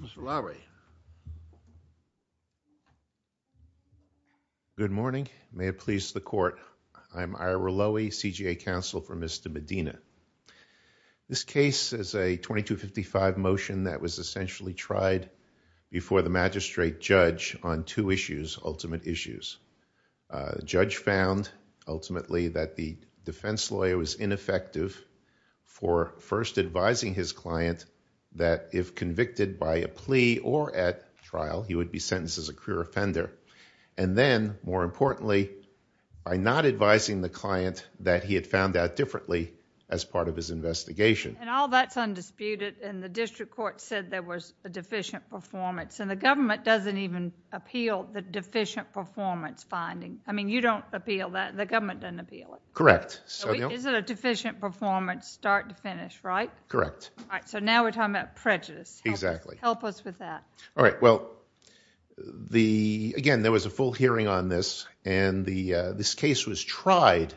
Mr. Lowry. Good morning. May it please the court. I'm Ira Lowy, CGA counsel for Mr. Medina. This case is a 2255 motion that was essentially tried before the magistrate judge on two issues, ultimate issues. The judge found, ultimately, that the defense lawyer was ineffective for first advising his client that if convicted by a plea or at trial, he would be sentenced as a career offender. And then, more importantly, by not advising the client that he had found out differently as part of his investigation. And all that's undisputed, and the district court said there was a deficient performance. And the government doesn't even appeal the deficient performance finding. I mean, you don't appeal that. The government doesn't appeal it. Correct. Is it a deficient performance start to finish, right? Correct. So now we're talking about prejudice. Help us with that. All right. Well, again, there was a full hearing on this, and this case was tried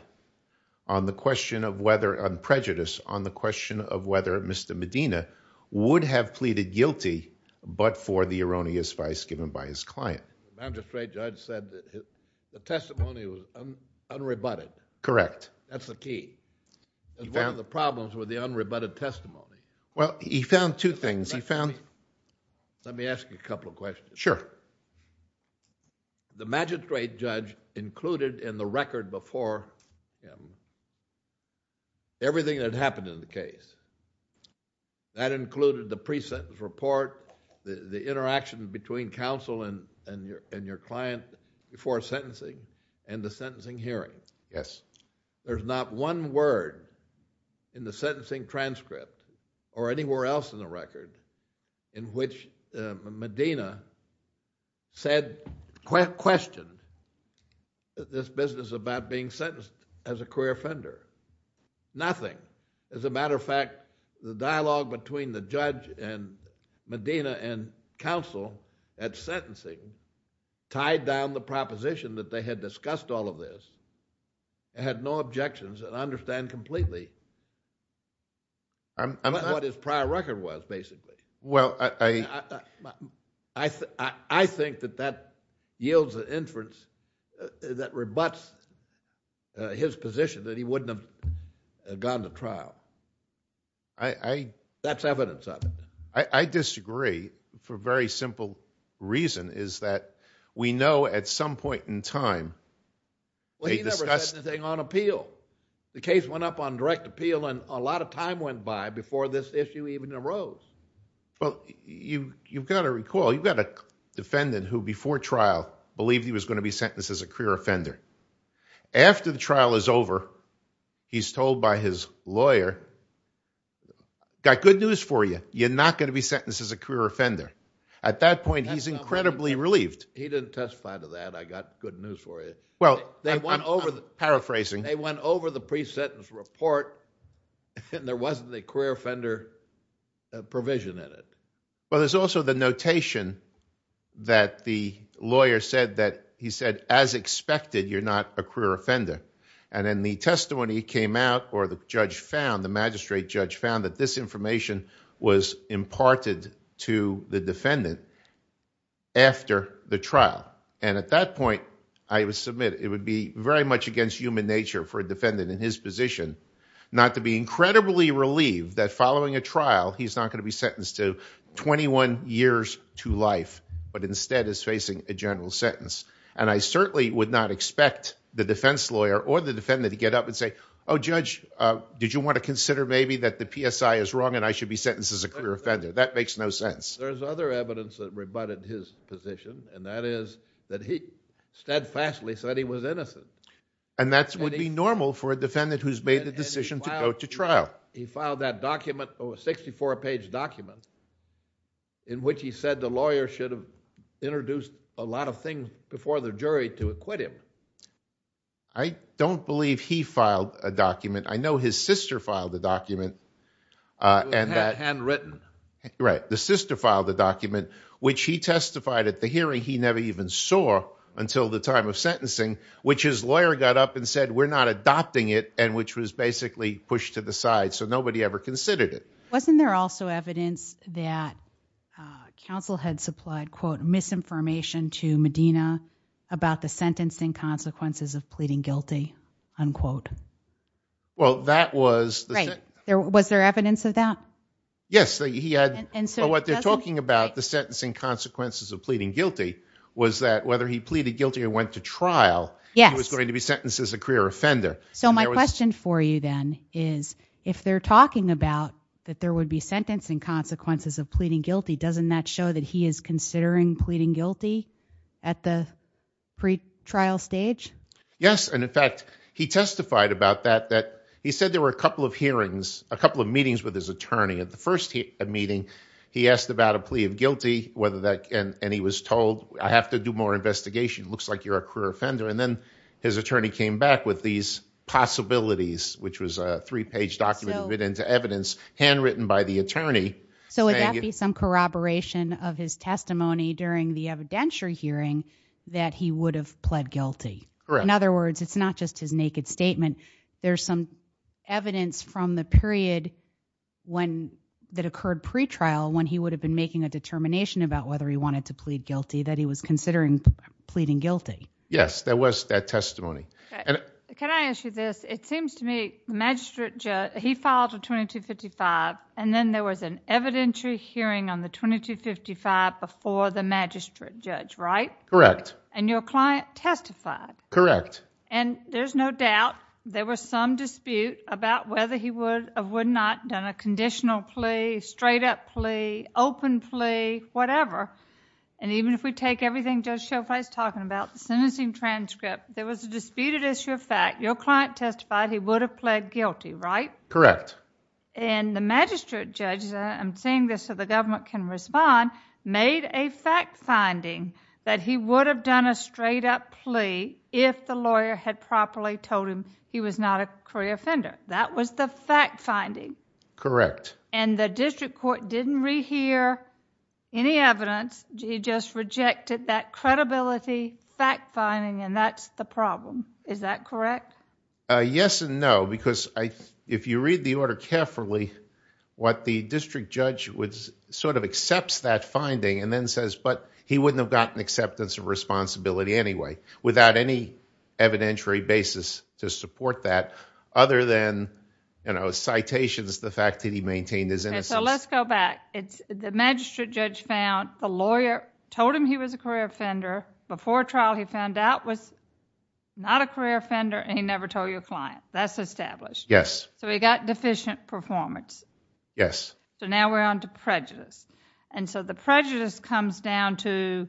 on the question of whether prejudice, on the question of whether Mr. Medina would have pleaded guilty but for the erroneous vice given by his client. The magistrate judge said the testimony was unrebutted. Correct. That's the key. He found... One of the problems was the unrebutted testimony. Well, he found two things. He found... Let me ask you a couple of questions. Sure. The magistrate judge included in the record before him everything that had happened in the case. That included the pre-sentence report, the interaction between counsel and your client before sentencing, and the sentencing hearing. Yes. There's not one word in the sentencing transcript or anywhere else in the record in which Medina questioned this business about being sentenced as a career offender. Nothing. As a matter of fact, the dialogue between the judge and Medina and counsel at sentencing tied down the proposition that they had discussed all of this, had no objections, and understand completely what his prior record was, basically. Well, I... I think that that yields an inference that rebuts his position that he wouldn't have gone to trial. I... That's evidence of it. I disagree for a very simple reason, is that we know at some point in time... Well, he never said anything on appeal. The case went up on direct appeal, and a lot of time went by before this issue even arose. Well, you've got to recall, you've got a defendant who, before trial, believed he was going to be sentenced as a career offender. After the trial is over, he's told by his lawyer, I've got good news for you. You're not going to be sentenced as a career offender. At that point, he's incredibly relieved. He didn't testify to that. I've got good news for you. Well, I'm paraphrasing. They went over the pre-sentence report, and there wasn't a career offender provision in it. Well, there's also the notation that the lawyer said that... He said, as expected, you're not a career offender. And then the testimony came out, or the judge found, the magistrate judge found, that this information was imparted to the defendant after the trial. And at that point, I would submit it would be very much against human nature for a defendant in his position not to be incredibly relieved that following a trial, he's not going to be sentenced to 21 years to life, but instead is facing a general sentence. And I certainly would not expect the defense lawyer or the defendant to get up and say, oh, judge, did you want to consider maybe that the PSI is wrong and I should be sentenced as a career offender? That makes no sense. There's other evidence that rebutted his position, and that is that he steadfastly said he was innocent. And that would be normal for a defendant who's made the decision to go to trial. He filed that document, a 64-page document, in which he said the lawyer should have introduced a lot of things before the jury to acquit him. I don't believe he filed a document. I know his sister filed a document. It was handwritten. Right. The sister filed a document, which he testified at the hearing he never even saw until the time of sentencing, which his lawyer got up and said, we're not adopting it, and which was basically pushed to the side. So nobody ever considered it. Wasn't there also evidence that counsel had supplied, quote, misinformation to Medina about the sentencing consequences of pleading guilty, unquote? Well, that was... Right. Was there evidence of that? Yes. He had... But what they're talking about, the sentencing consequences of pleading guilty, was that whether he pleaded guilty or went to trial, he was going to be sentenced as a career offender. So my question for you then is, if they're talking about that there would be sentencing consequences of pleading guilty, doesn't that show that he is considering pleading guilty at the pretrial stage? Yes. And in fact, he testified about that, that he said there were a couple of hearings, a couple of meetings with his attorney. At the first meeting, he asked about a plea of guilty, and he was told, I have to do more investigation. It looks like you're a career offender. And then his attorney came back with these possibilities, which was a three-page document written into evidence, handwritten by the attorney. So would that be some corroboration of his testimony during the evidentiary hearing that he would have pled guilty? Correct. In other words, it's not just his naked statement. There's some evidence from the period that occurred pretrial, when he would have been making a determination about whether he wanted to plead guilty, that he was considering pleading guilty. Yes, there was that testimony. Can I ask you this? It seems to me the magistrate judge, he filed a 2255, and then there was an evidentiary hearing on the 2255 before the magistrate judge, right? Correct. And your client testified? Correct. And there's no doubt there was some dispute about whether he would or would not have done a conditional plea, straight-up plea, open plea, whatever. And even if we take everything Judge Schofield is talking about, the sentencing transcript, there was a disputed issue of fact. Your client testified he would have pled guilty, right? Correct. And the magistrate judge, and I'm saying this so the government can respond, made a fact-finding that he would have done a straight-up plea if the lawyer had properly told him he was not a career offender. That was the fact-finding. Correct. And the district court didn't rehear any evidence. It just rejected that credibility fact-finding, and that's the problem. Is that correct? Yes and no, because if you read the order carefully, what the district judge sort of accepts that finding and then says, but he wouldn't have gotten acceptance of responsibility anyway, without any evidentiary basis to support that, other than, you know, citations, the fact that he maintained his innocence. Okay, so let's go back. The magistrate judge found the lawyer told him he was a career offender. Before trial, he found out was not a career offender, and he never told your client. That's established. Yes. So he got deficient performance. Yes. So now we're on to prejudice. And so the prejudice comes down to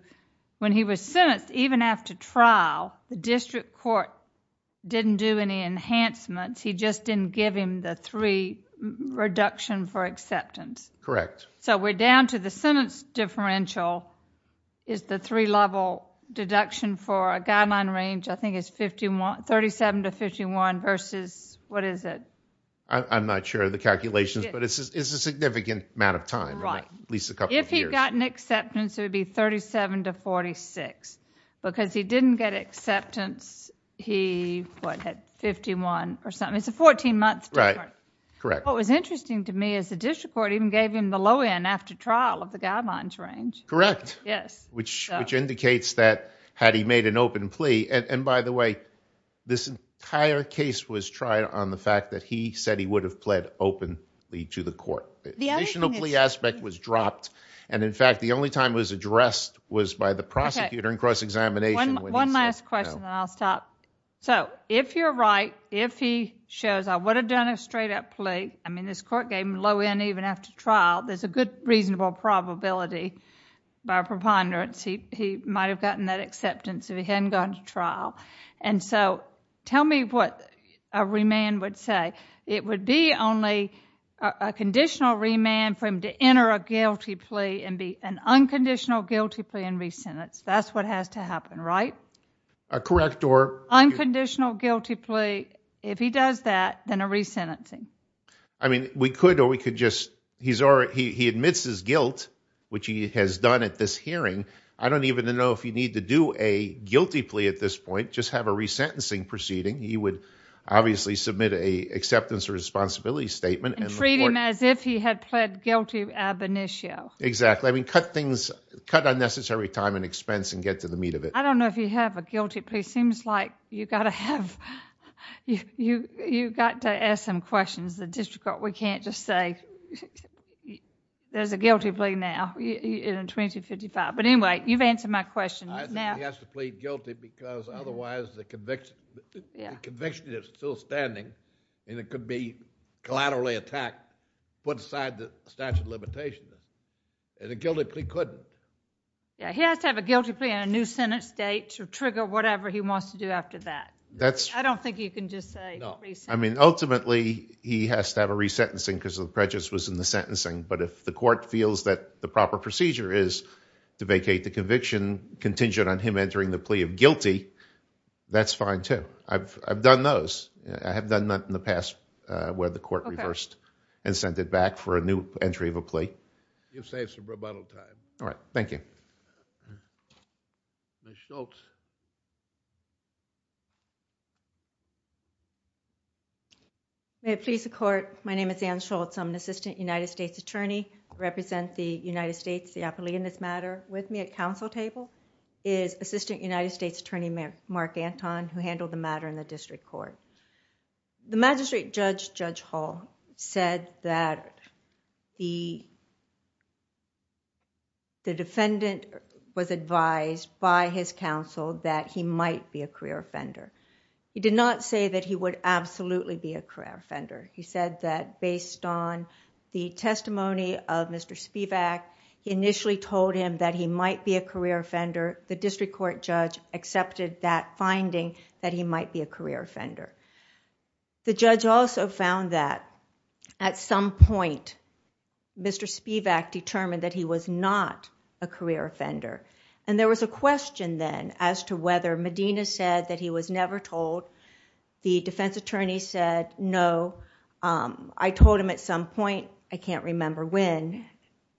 when he was sentenced, even after trial, the district court didn't do any enhancements. He just didn't give him the three reduction for acceptance. Correct. So we're down to the sentence differential is the three-level deduction for a guideline range, I think it's 37 to 51 versus, what is it? I'm not sure of the calculations, but it's a significant amount of time, at least a couple of years. If he had gotten acceptance, it would be 37 to 46. Because he didn't get acceptance, he, what, had 51 or something. It's a 14-month difference. Correct. What was interesting to me is the district court even gave him the low end after trial of the guidelines range. Correct. Yes. Which indicates that had he made an open plea, and, by the way, this entire case was tried on the fact that he said he would have pled openly to the court. The additional plea aspect was dropped, and, in fact, the only time it was addressed was by the prosecutor in cross-examination when he said no. One last question, then I'll stop. So if you're right, if he shows, I would have done a straight-up plea, I mean this court gave him low end even after trial, there's a good reasonable probability by preponderance he might have gotten that acceptance if he hadn't gone to trial. And so tell me what a remand would say. It would be only a conditional remand for him to enter a guilty plea and be an unconditional guilty plea and resentence. That's what has to happen, right? Correct. Unconditional guilty plea, if he does that, then a resentencing. I mean we could or we could just, he admits his guilt, which he has done at this hearing. I don't even know if you need to do a guilty plea at this point, just have a resentencing proceeding. He would obviously submit an acceptance or responsibility statement. And treat him as if he had pled guilty ab initio. Exactly. I mean cut unnecessary time and expense and get to the meat of it. I don't know if you have a guilty plea. It seems like you've got to have... you've got to ask some questions. The district court, we can't just say there's a guilty plea now in 2055. But anyway, you've answered my question. He has to plead guilty because otherwise the conviction is still standing and it could be collaterally attacked, put aside the statute of limitations. And a guilty plea couldn't. Yeah, he has to have a guilty plea and a new sentence date to trigger whatever he wants to do after that. I don't think you can just say resentencing. I mean ultimately he has to have a resentencing because the prejudice was in the sentencing. But if the court feels that the proper procedure is to vacate the conviction contingent on him entering the plea of guilty, that's fine too. I've done those. I have done that in the past where the court reversed and sent it back for a new entry of a plea. You've saved some rebuttal time. All right. Thank you. Ms. Schultz. May it please the court. My name is Ann Schultz. I'm an Assistant United States Attorney. I represent the United States, the Appellee in this matter. With me at council table is Assistant United States Attorney Mark Anton who handled the matter in the district court. The magistrate judge, Judge Hall, said that the defendant was advised by his counsel that he might be a career offender. He did not say that he would absolutely be a career offender. He said that based on the testimony of Mr. Spivak, he initially told him that he might be a career offender. The district court judge accepted that finding that he might be a career offender. The judge also found that at some point, Mr. Spivak determined that he was not a career offender. There was a question then as to whether Medina said that he was never told. The defense attorney said, no. I told him at some point. I can't remember when.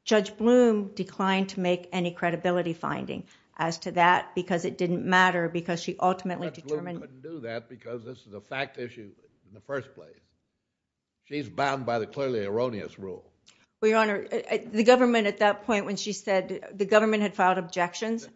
Judge Blum declined to make any credibility finding as to that because it didn't matter because she ultimately determined... Judge Blum couldn't do that because this is a fact issue in the first place. She's bound by the clearly erroneous rule. Your Honor, the government at that point when she said... the government had filed objections.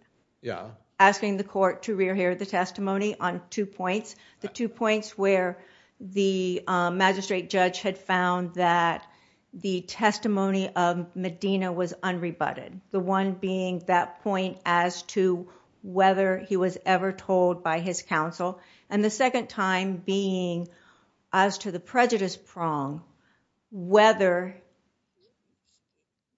Yeah. Asking the court to re-rehear the testimony on two points. The two points where the magistrate judge had found that the testimony of Medina was unrebutted. The one being that point as to whether he was ever told by his counsel. The second time being as to the prejudice prong, whether...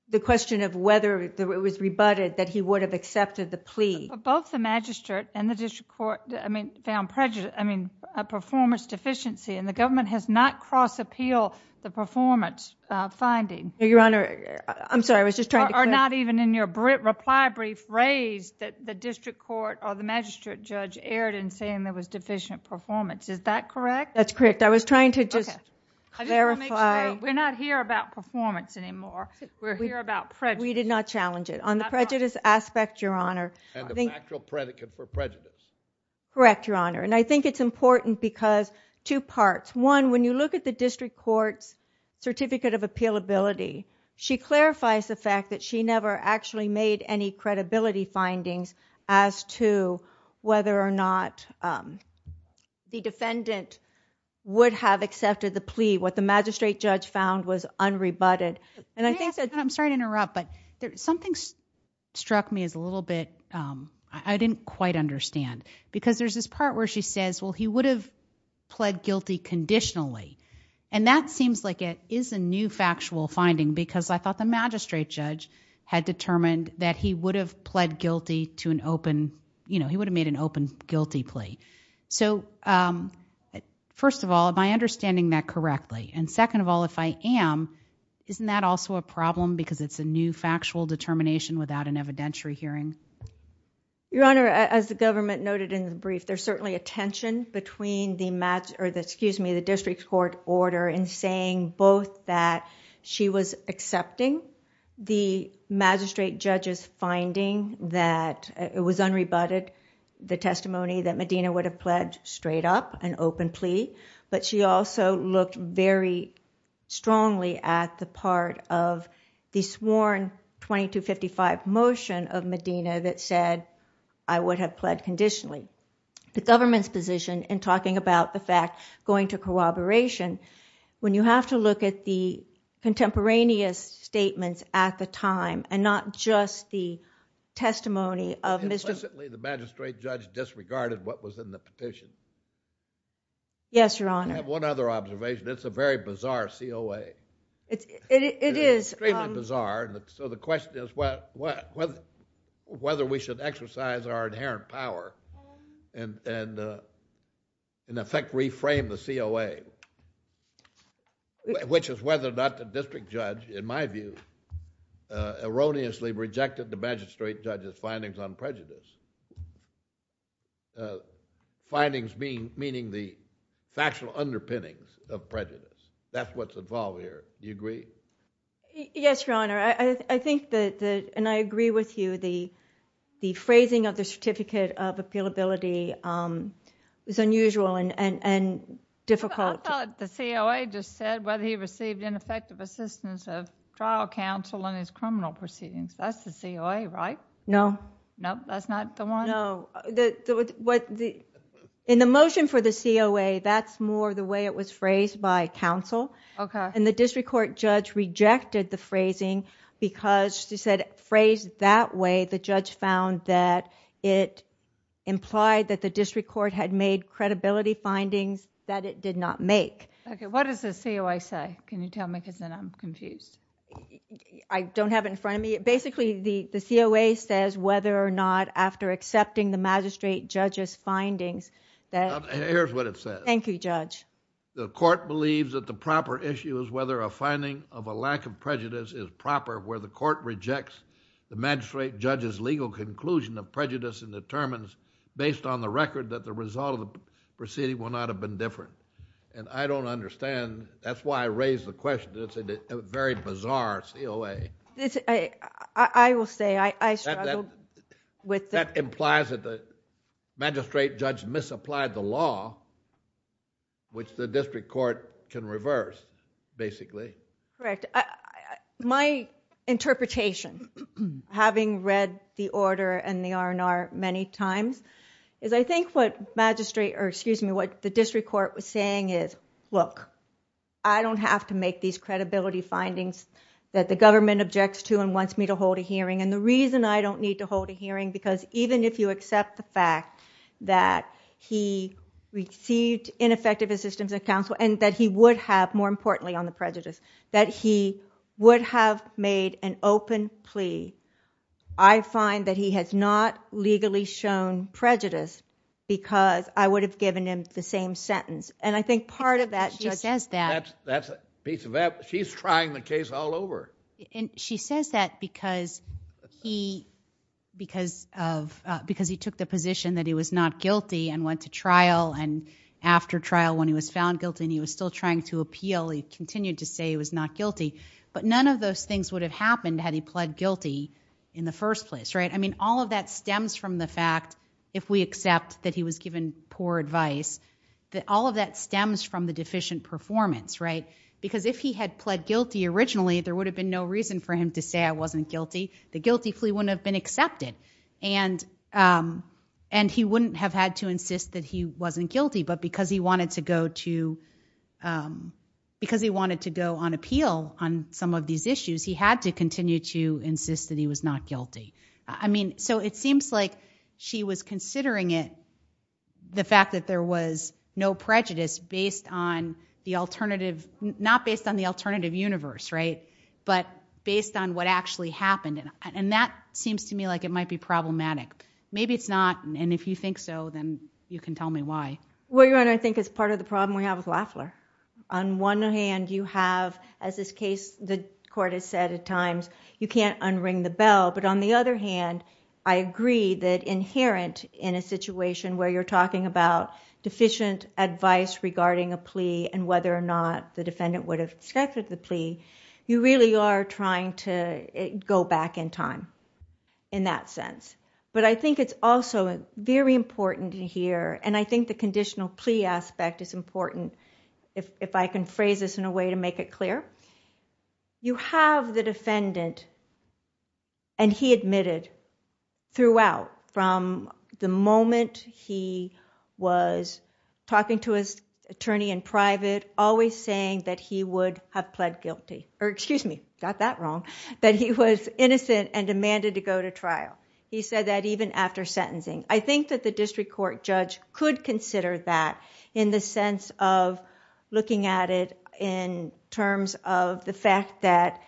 the question of whether it was rebutted that he would have accepted the plea. Both the magistrate and the district court found performance deficiency. The government has not cross appealed the performance finding. Your Honor, I'm sorry. I was just trying to... Or not even in your reply brief raised that the district court or the magistrate judge erred in saying there was deficient performance. Is that correct? That's correct. I was trying to just clarify... We're not here about performance anymore. We're here about prejudice. We did not challenge it. On the prejudice aspect, Your Honor... And the factual predicate for prejudice. Correct, Your Honor. I think it's important because two parts. One, when you look at the district court's certificate of appealability, she clarifies the fact that she never actually made any credibility findings as to whether or not the defendant would have accepted the plea. What the magistrate judge found was unrebutted. I'm sorry to interrupt, but something struck me as a little bit... I didn't quite understand because there's this part where she says, well, he would have pled guilty conditionally. That seems like it is a new factual finding because I thought the magistrate judge had determined that he would have pled guilty to an open... He would have made an open guilty plea. First of all, am I understanding that correctly? Second of all, if I am, isn't that also a problem because it's a new factual determination without an evidentiary hearing? Your Honor, as the government noted in the brief, there's certainly a district court order in saying both that she was accepting the magistrate judge's finding that it was unrebutted, the testimony that Medina would have pled straight up, an open plea, but she also looked very strongly at the part of the sworn 2255 motion of Medina that said, I would have pled conditionally. The government's position in talking about the fact going to corroboration, when you have to look at the contemporaneous statements at the time and not just the testimony of... Implicitly, the magistrate judge disregarded what was in the petition. Yes, Your Honor. I have one other observation. It's a very bizarre COA. It is. Extremely bizarre. The question is whether we should exercise our inherent power and, in effect, reframe the COA, which is whether or not the district judge, in my view, erroneously rejected the magistrate judge's findings on prejudice. Findings meaning the factual underpinnings of prejudice. That's what's involved here. Do you agree? Yes, Your Honor. I think that, and I agree with you, the phrasing of the certificate of appealability is unusual and difficult. I thought the COA just said whether he received ineffective assistance of trial counsel in his criminal proceedings. That's the COA, right? No. No? That's not the one? No. In the motion for the COA, that's more the way it was phrased by counsel. Okay. The district court judge rejected the phrasing because, she said, phrased that way, the judge found that it implied that the district court had made credibility findings that it did not make. Okay. What does the COA say? Can you tell me? Because then I'm confused. I don't have it in front of me. Basically, the COA says whether or not after accepting the magistrate judge's findings that... Here's what it says. Thank you, Judge. The court believes that the proper issue is whether a finding of a lack of prejudice is proper where the court rejects the magistrate judge's legal conclusion of prejudice and determines, based on the record, that the result of the proceeding will not have been different. I don't understand. That's why I raised the question. It's a very bizarre COA. I will say I struggled with... Which the district court can reverse, basically. Correct. My interpretation, having read the order and the R&R many times, is I think what the district court was saying is, look, I don't have to make these credibility findings that the government objects to and wants me to hold a hearing. The reason I don't need to hold a hearing, because even if you accept the would have, more importantly, on the prejudice, that he would have made an open plea, I find that he has not legally shown prejudice because I would have given him the same sentence. I think part of that... She says that. She's trying the case all over. She says that because he took the position that he was not guilty and went to trial. After trial, when he was found guilty and he was still trying to appeal, he continued to say he was not guilty. None of those things would have happened had he pled guilty in the first place. All of that stems from the fact, if we accept that he was given poor advice, that all of that stems from the deficient performance. If he had pled guilty originally, there would have been no reason for him to say I wasn't guilty. The guilty plea wouldn't have been accepted. He wouldn't have had to insist that he wasn't guilty, but because he wanted to go on appeal on some of these issues, he had to continue to insist that he was not guilty. It seems like she was considering it, the fact that there was no prejudice based on the alternative... not based on the alternative universe, but based on what actually happened. That seems to me like it might be problematic. Maybe it's not, and if you think so, then you can tell me why. Well, Your Honor, I think it's part of the problem we have with Lafler. On one hand, you have, as this case, the court has said at times, you can't unring the bell, but on the other hand, I agree that inherent in a situation where you're talking about deficient advice regarding a plea and whether or not the defendant would have accepted the plea, you really are trying to go back in time in that sense. I think it's also very important here, and I think the conditional plea aspect is important, if I can phrase this in a way to make it clear. You have the defendant, and he admitted throughout from the moment he was talking to his attorney in private, always saying that he would have pled guilty, or excuse me, got that wrong, that he was innocent and demanded to go to trial. He said that even after sentencing. I think that the district court judge could consider that in the sense of looking at it in terms of the fact that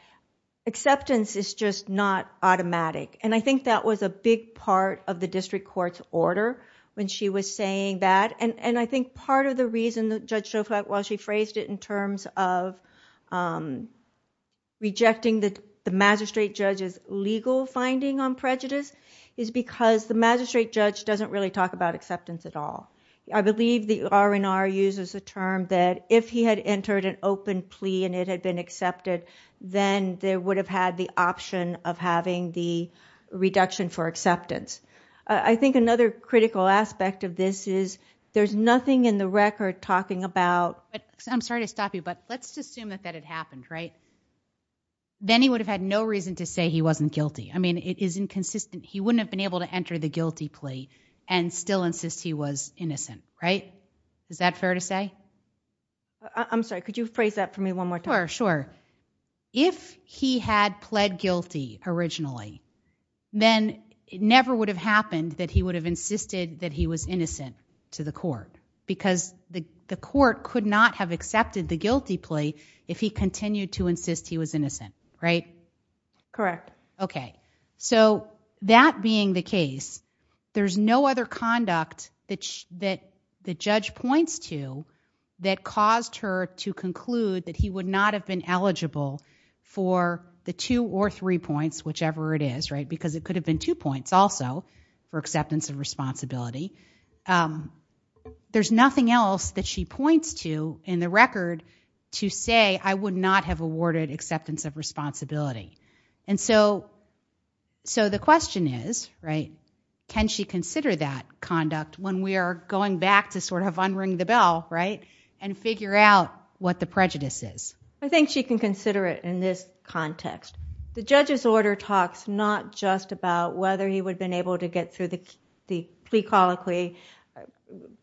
acceptance is just not automatic. I think that was a big part of the district court's order when she was saying that, and I think part of the reason Judge Schofield, while she was rejecting the magistrate judge's legal finding on prejudice, is because the magistrate judge doesn't really talk about acceptance at all. I believe the R&R uses the term that if he had entered an open plea and it had been accepted, then they would have had the option of having the reduction for acceptance. I think another critical aspect of this is there's nothing in the record talking about... Then he would have had no reason to say he wasn't guilty. It is inconsistent. He wouldn't have been able to enter the guilty plea and still insist he was innocent. Is that fair to say? I'm sorry. Could you phrase that for me one more time? Sure. If he had pled guilty originally, then it never would have happened that he would have insisted that he was innocent to the court because the court could not have accepted the guilty plea if he continued to insist he was innocent, right? Correct. Okay. So that being the case, there's no other conduct that the judge points to that caused her to conclude that he would not have been eligible for the two or three points, whichever it is, right, because it could have been two points also for acceptance of responsibility. There's nothing else that she points to in the record to say, I would not have awarded acceptance of responsibility. And so the question is, right, can she consider that conduct when we are going back to sort of unring the bell, right, and figure out what the prejudice is? I think she can consider it in this context. The judge's order talks not just about whether he would have been able to get through the plea colloquy,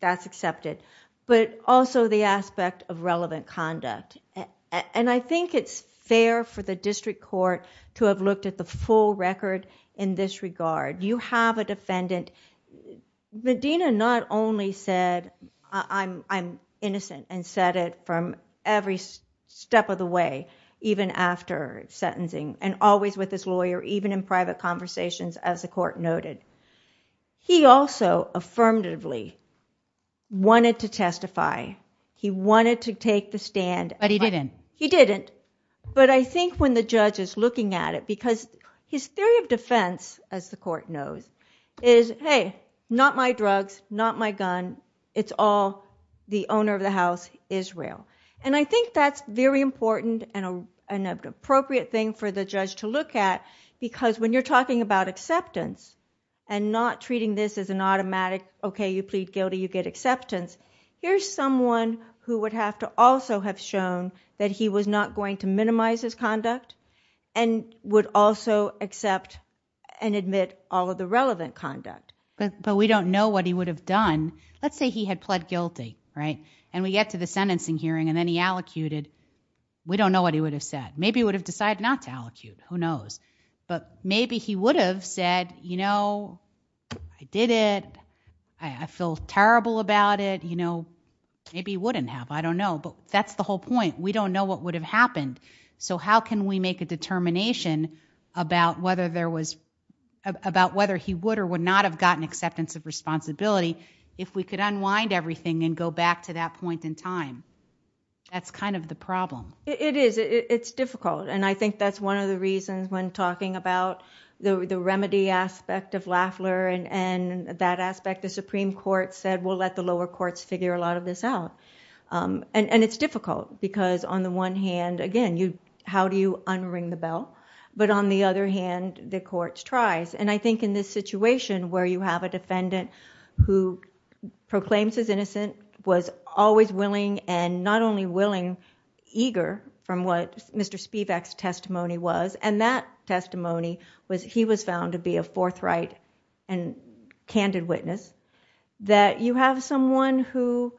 that's accepted, but also the aspect of relevant conduct. And I think it's fair for the district court to have looked at the full record in this regard. You have a defendant... Medina not only said, I'm innocent and said it from every step of the way, even after sentencing and always with his lawyer, even in private conversations, as the court noted. He also affirmatively wanted to testify. He wanted to take the stand. But he didn't. He didn't. But I think when the judge is looking at it, because his theory of defense, as the court knows, is, hey, not my drugs, not my gun. It's all the owner of the house, Israel. And I think that's very important and an appropriate thing for the judge to look at, because when you're talking about acceptance and not treating this as an automatic, okay, you plead guilty, you get acceptance, here's someone who would have to also have shown that he was not going to minimize his conduct and would also accept and admit all of the relevant conduct. But we don't know what he would have done. Let's say he had pled guilty, right, and we get to the sentencing hearing and then he allocuted. We don't know what he would have said. Maybe he would have decided not to allocate. Who knows? But maybe he would have said, you know, I did it, I feel terrible about it. You know, maybe he wouldn't have. I don't know. But that's the whole point. We don't know what would have happened. So how can we make a determination about whether he would or would not have gotten acceptance of responsibility if we could unwind everything and go back to that point in time? That's kind of the problem. It is. It's difficult. And I think that's one of the reasons when talking about the remedy aspect of Lafler and that aspect, the Supreme Court said, we'll let the lower courts figure a lot of this out. And it's difficult because on the one hand, again, how do you unring the bell? But on the other hand, the courts tries. And I think in this situation where you have a defendant who proclaims his innocence, was always willing and not only willing, eager from what Mr. Spivak's testimony was, and that testimony was he was found to be a forthright and candid witness, that you have someone who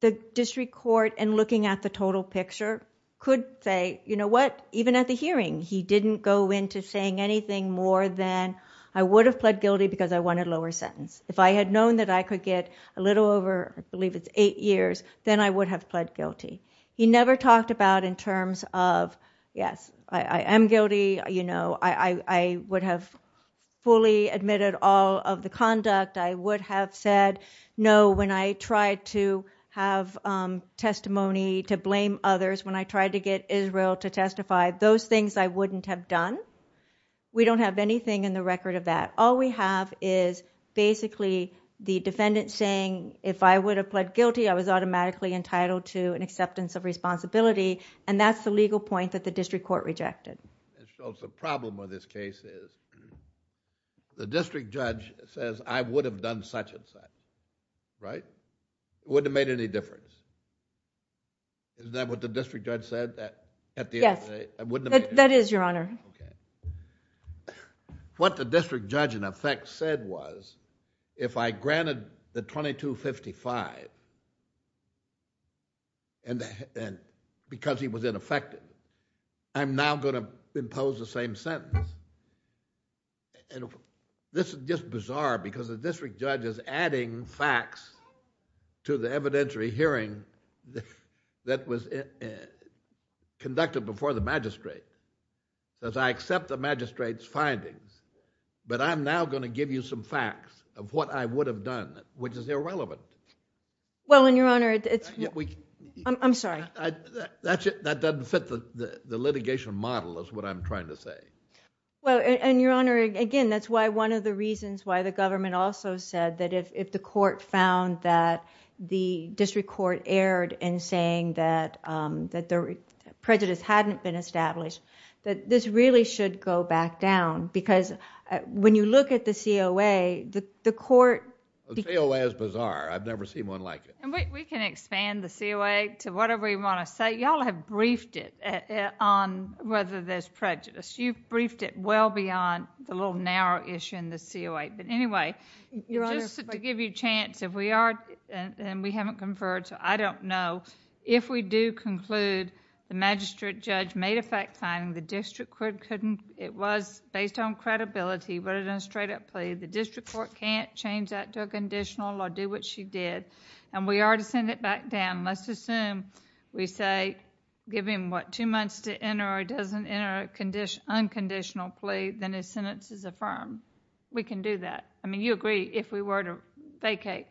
the district court in looking at the total picture could say, you know what, even at the hearing, he didn't go into saying anything more than I would have pled guilty because I wanted a lower sentence. If I had known that I could get a little over, I believe it's eight years, then I would have pled guilty. He never talked about in terms of, yes, I am guilty. You know, I would have fully admitted all of the conduct. I would have said no when I tried to have testimony to blame others, when I tried to get Israel to testify. Those things I wouldn't have done. We don't have anything in the record of that. All we have is basically the defendant saying, if I would have pled guilty, I was automatically entitled to an acceptance of responsibility, and that's the legal point that the district court rejected. The problem with this case is the district judge says, I would have done such and such, right? It wouldn't have made any difference. Isn't that what the district judge said? Yes, that is, Your Honor. What the district judge in effect said was, if I granted the 2255 because he was ineffective, I'm now going to impose the same sentence. This is just bizarre because the district judge is adding facts to the evidentiary hearing that was conducted before the magistrate. I accept the magistrate's findings, but I'm now going to give you some facts of what I would have done, which is irrelevant. I'm sorry. That doesn't fit the litigation model is what I'm trying to say. Your Honor, again, that's one of the reasons why the government also said that if the court found that the district court erred in saying that the prejudice hadn't been established, that this really should go back down because when you look at the COA, the court... The COA is bizarre. I've never seen one like it. We can expand the COA to whatever you want to say. You all have briefed it on whether there's prejudice. You've briefed it well beyond the little narrow issue in the COA. Anyway, just to give you a chance, if we are and we haven't conferred, so I don't know, if we do conclude the magistrate judge made a fact finding, the district court couldn't... It was based on credibility, but it was a straight-up plea. The district court can't change that to a conditional or do what she did, and we are to send it back down. Let's assume we say, give him, what, two months to enter or he doesn't enter an unconditional plea, then his sentence is affirmed. We can do that. I mean, you agree, if we were to vacate,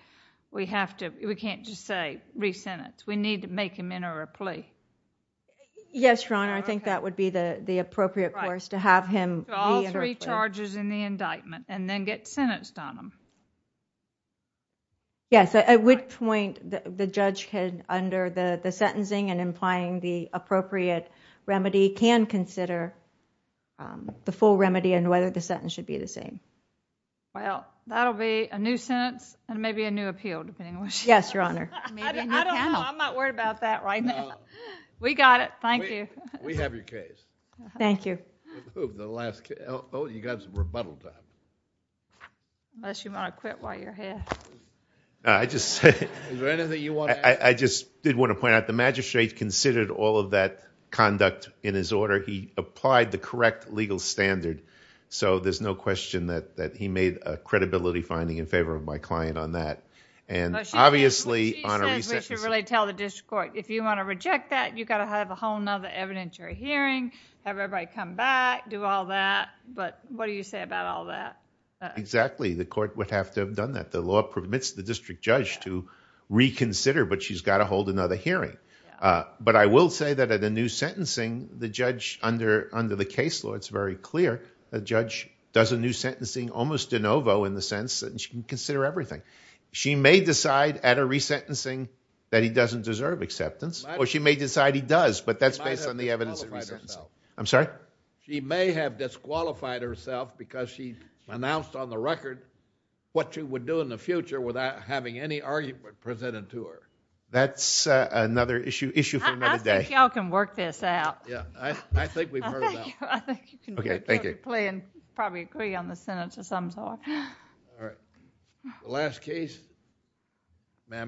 we have to... We can't just say, re-sentence. We need to make him enter a plea. Yes, Your Honor. I think that would be the appropriate course to have him re-enter a plea. All three charges in the indictment and then get sentenced on them. Yes. At which point, the judge can, under the sentencing and implying the appropriate remedy, can consider the full remedy and whether the sentence should be the same. Well, that will be a new sentence and maybe a new appeal, depending on... Yes, Your Honor. I don't know. I'm not worried about that right now. We got it. Thank you. We have your case. Thank you. The last... Oh, you got some rebuttal time. Unless you want to quit while you're here. I just... Is there anything you want to add? I just did want to point out the magistrate considered all of that conduct in his order. He applied the correct legal standard, so there's no question that he made a credibility finding in favor of my client on that. Obviously... She says we should really tell the district court. If you want to reject that, you got to have a whole other evidentiary hearing, have everybody come back, do all that, but what do you say about all that? Exactly. The court would have to have done that. The law permits the district judge to reconsider, but she's got to hold another hearing. I will say that at a new sentencing, the judge, under the case law, it's very clear the judge does a new sentencing almost de novo in the sense that she can consider everything. She may decide at a resentencing that he doesn't deserve acceptance, or she may decide he does, but that's based on the evidence... She might have disqualified herself. I'm sorry? She may have disqualified herself because she announced on the record what she would do in the future without having any argument presented to her. That's another issue for another day. I think you all can work this out. I think we've heard enough. I think you can play and probably agree on the sentence or something like that. All right.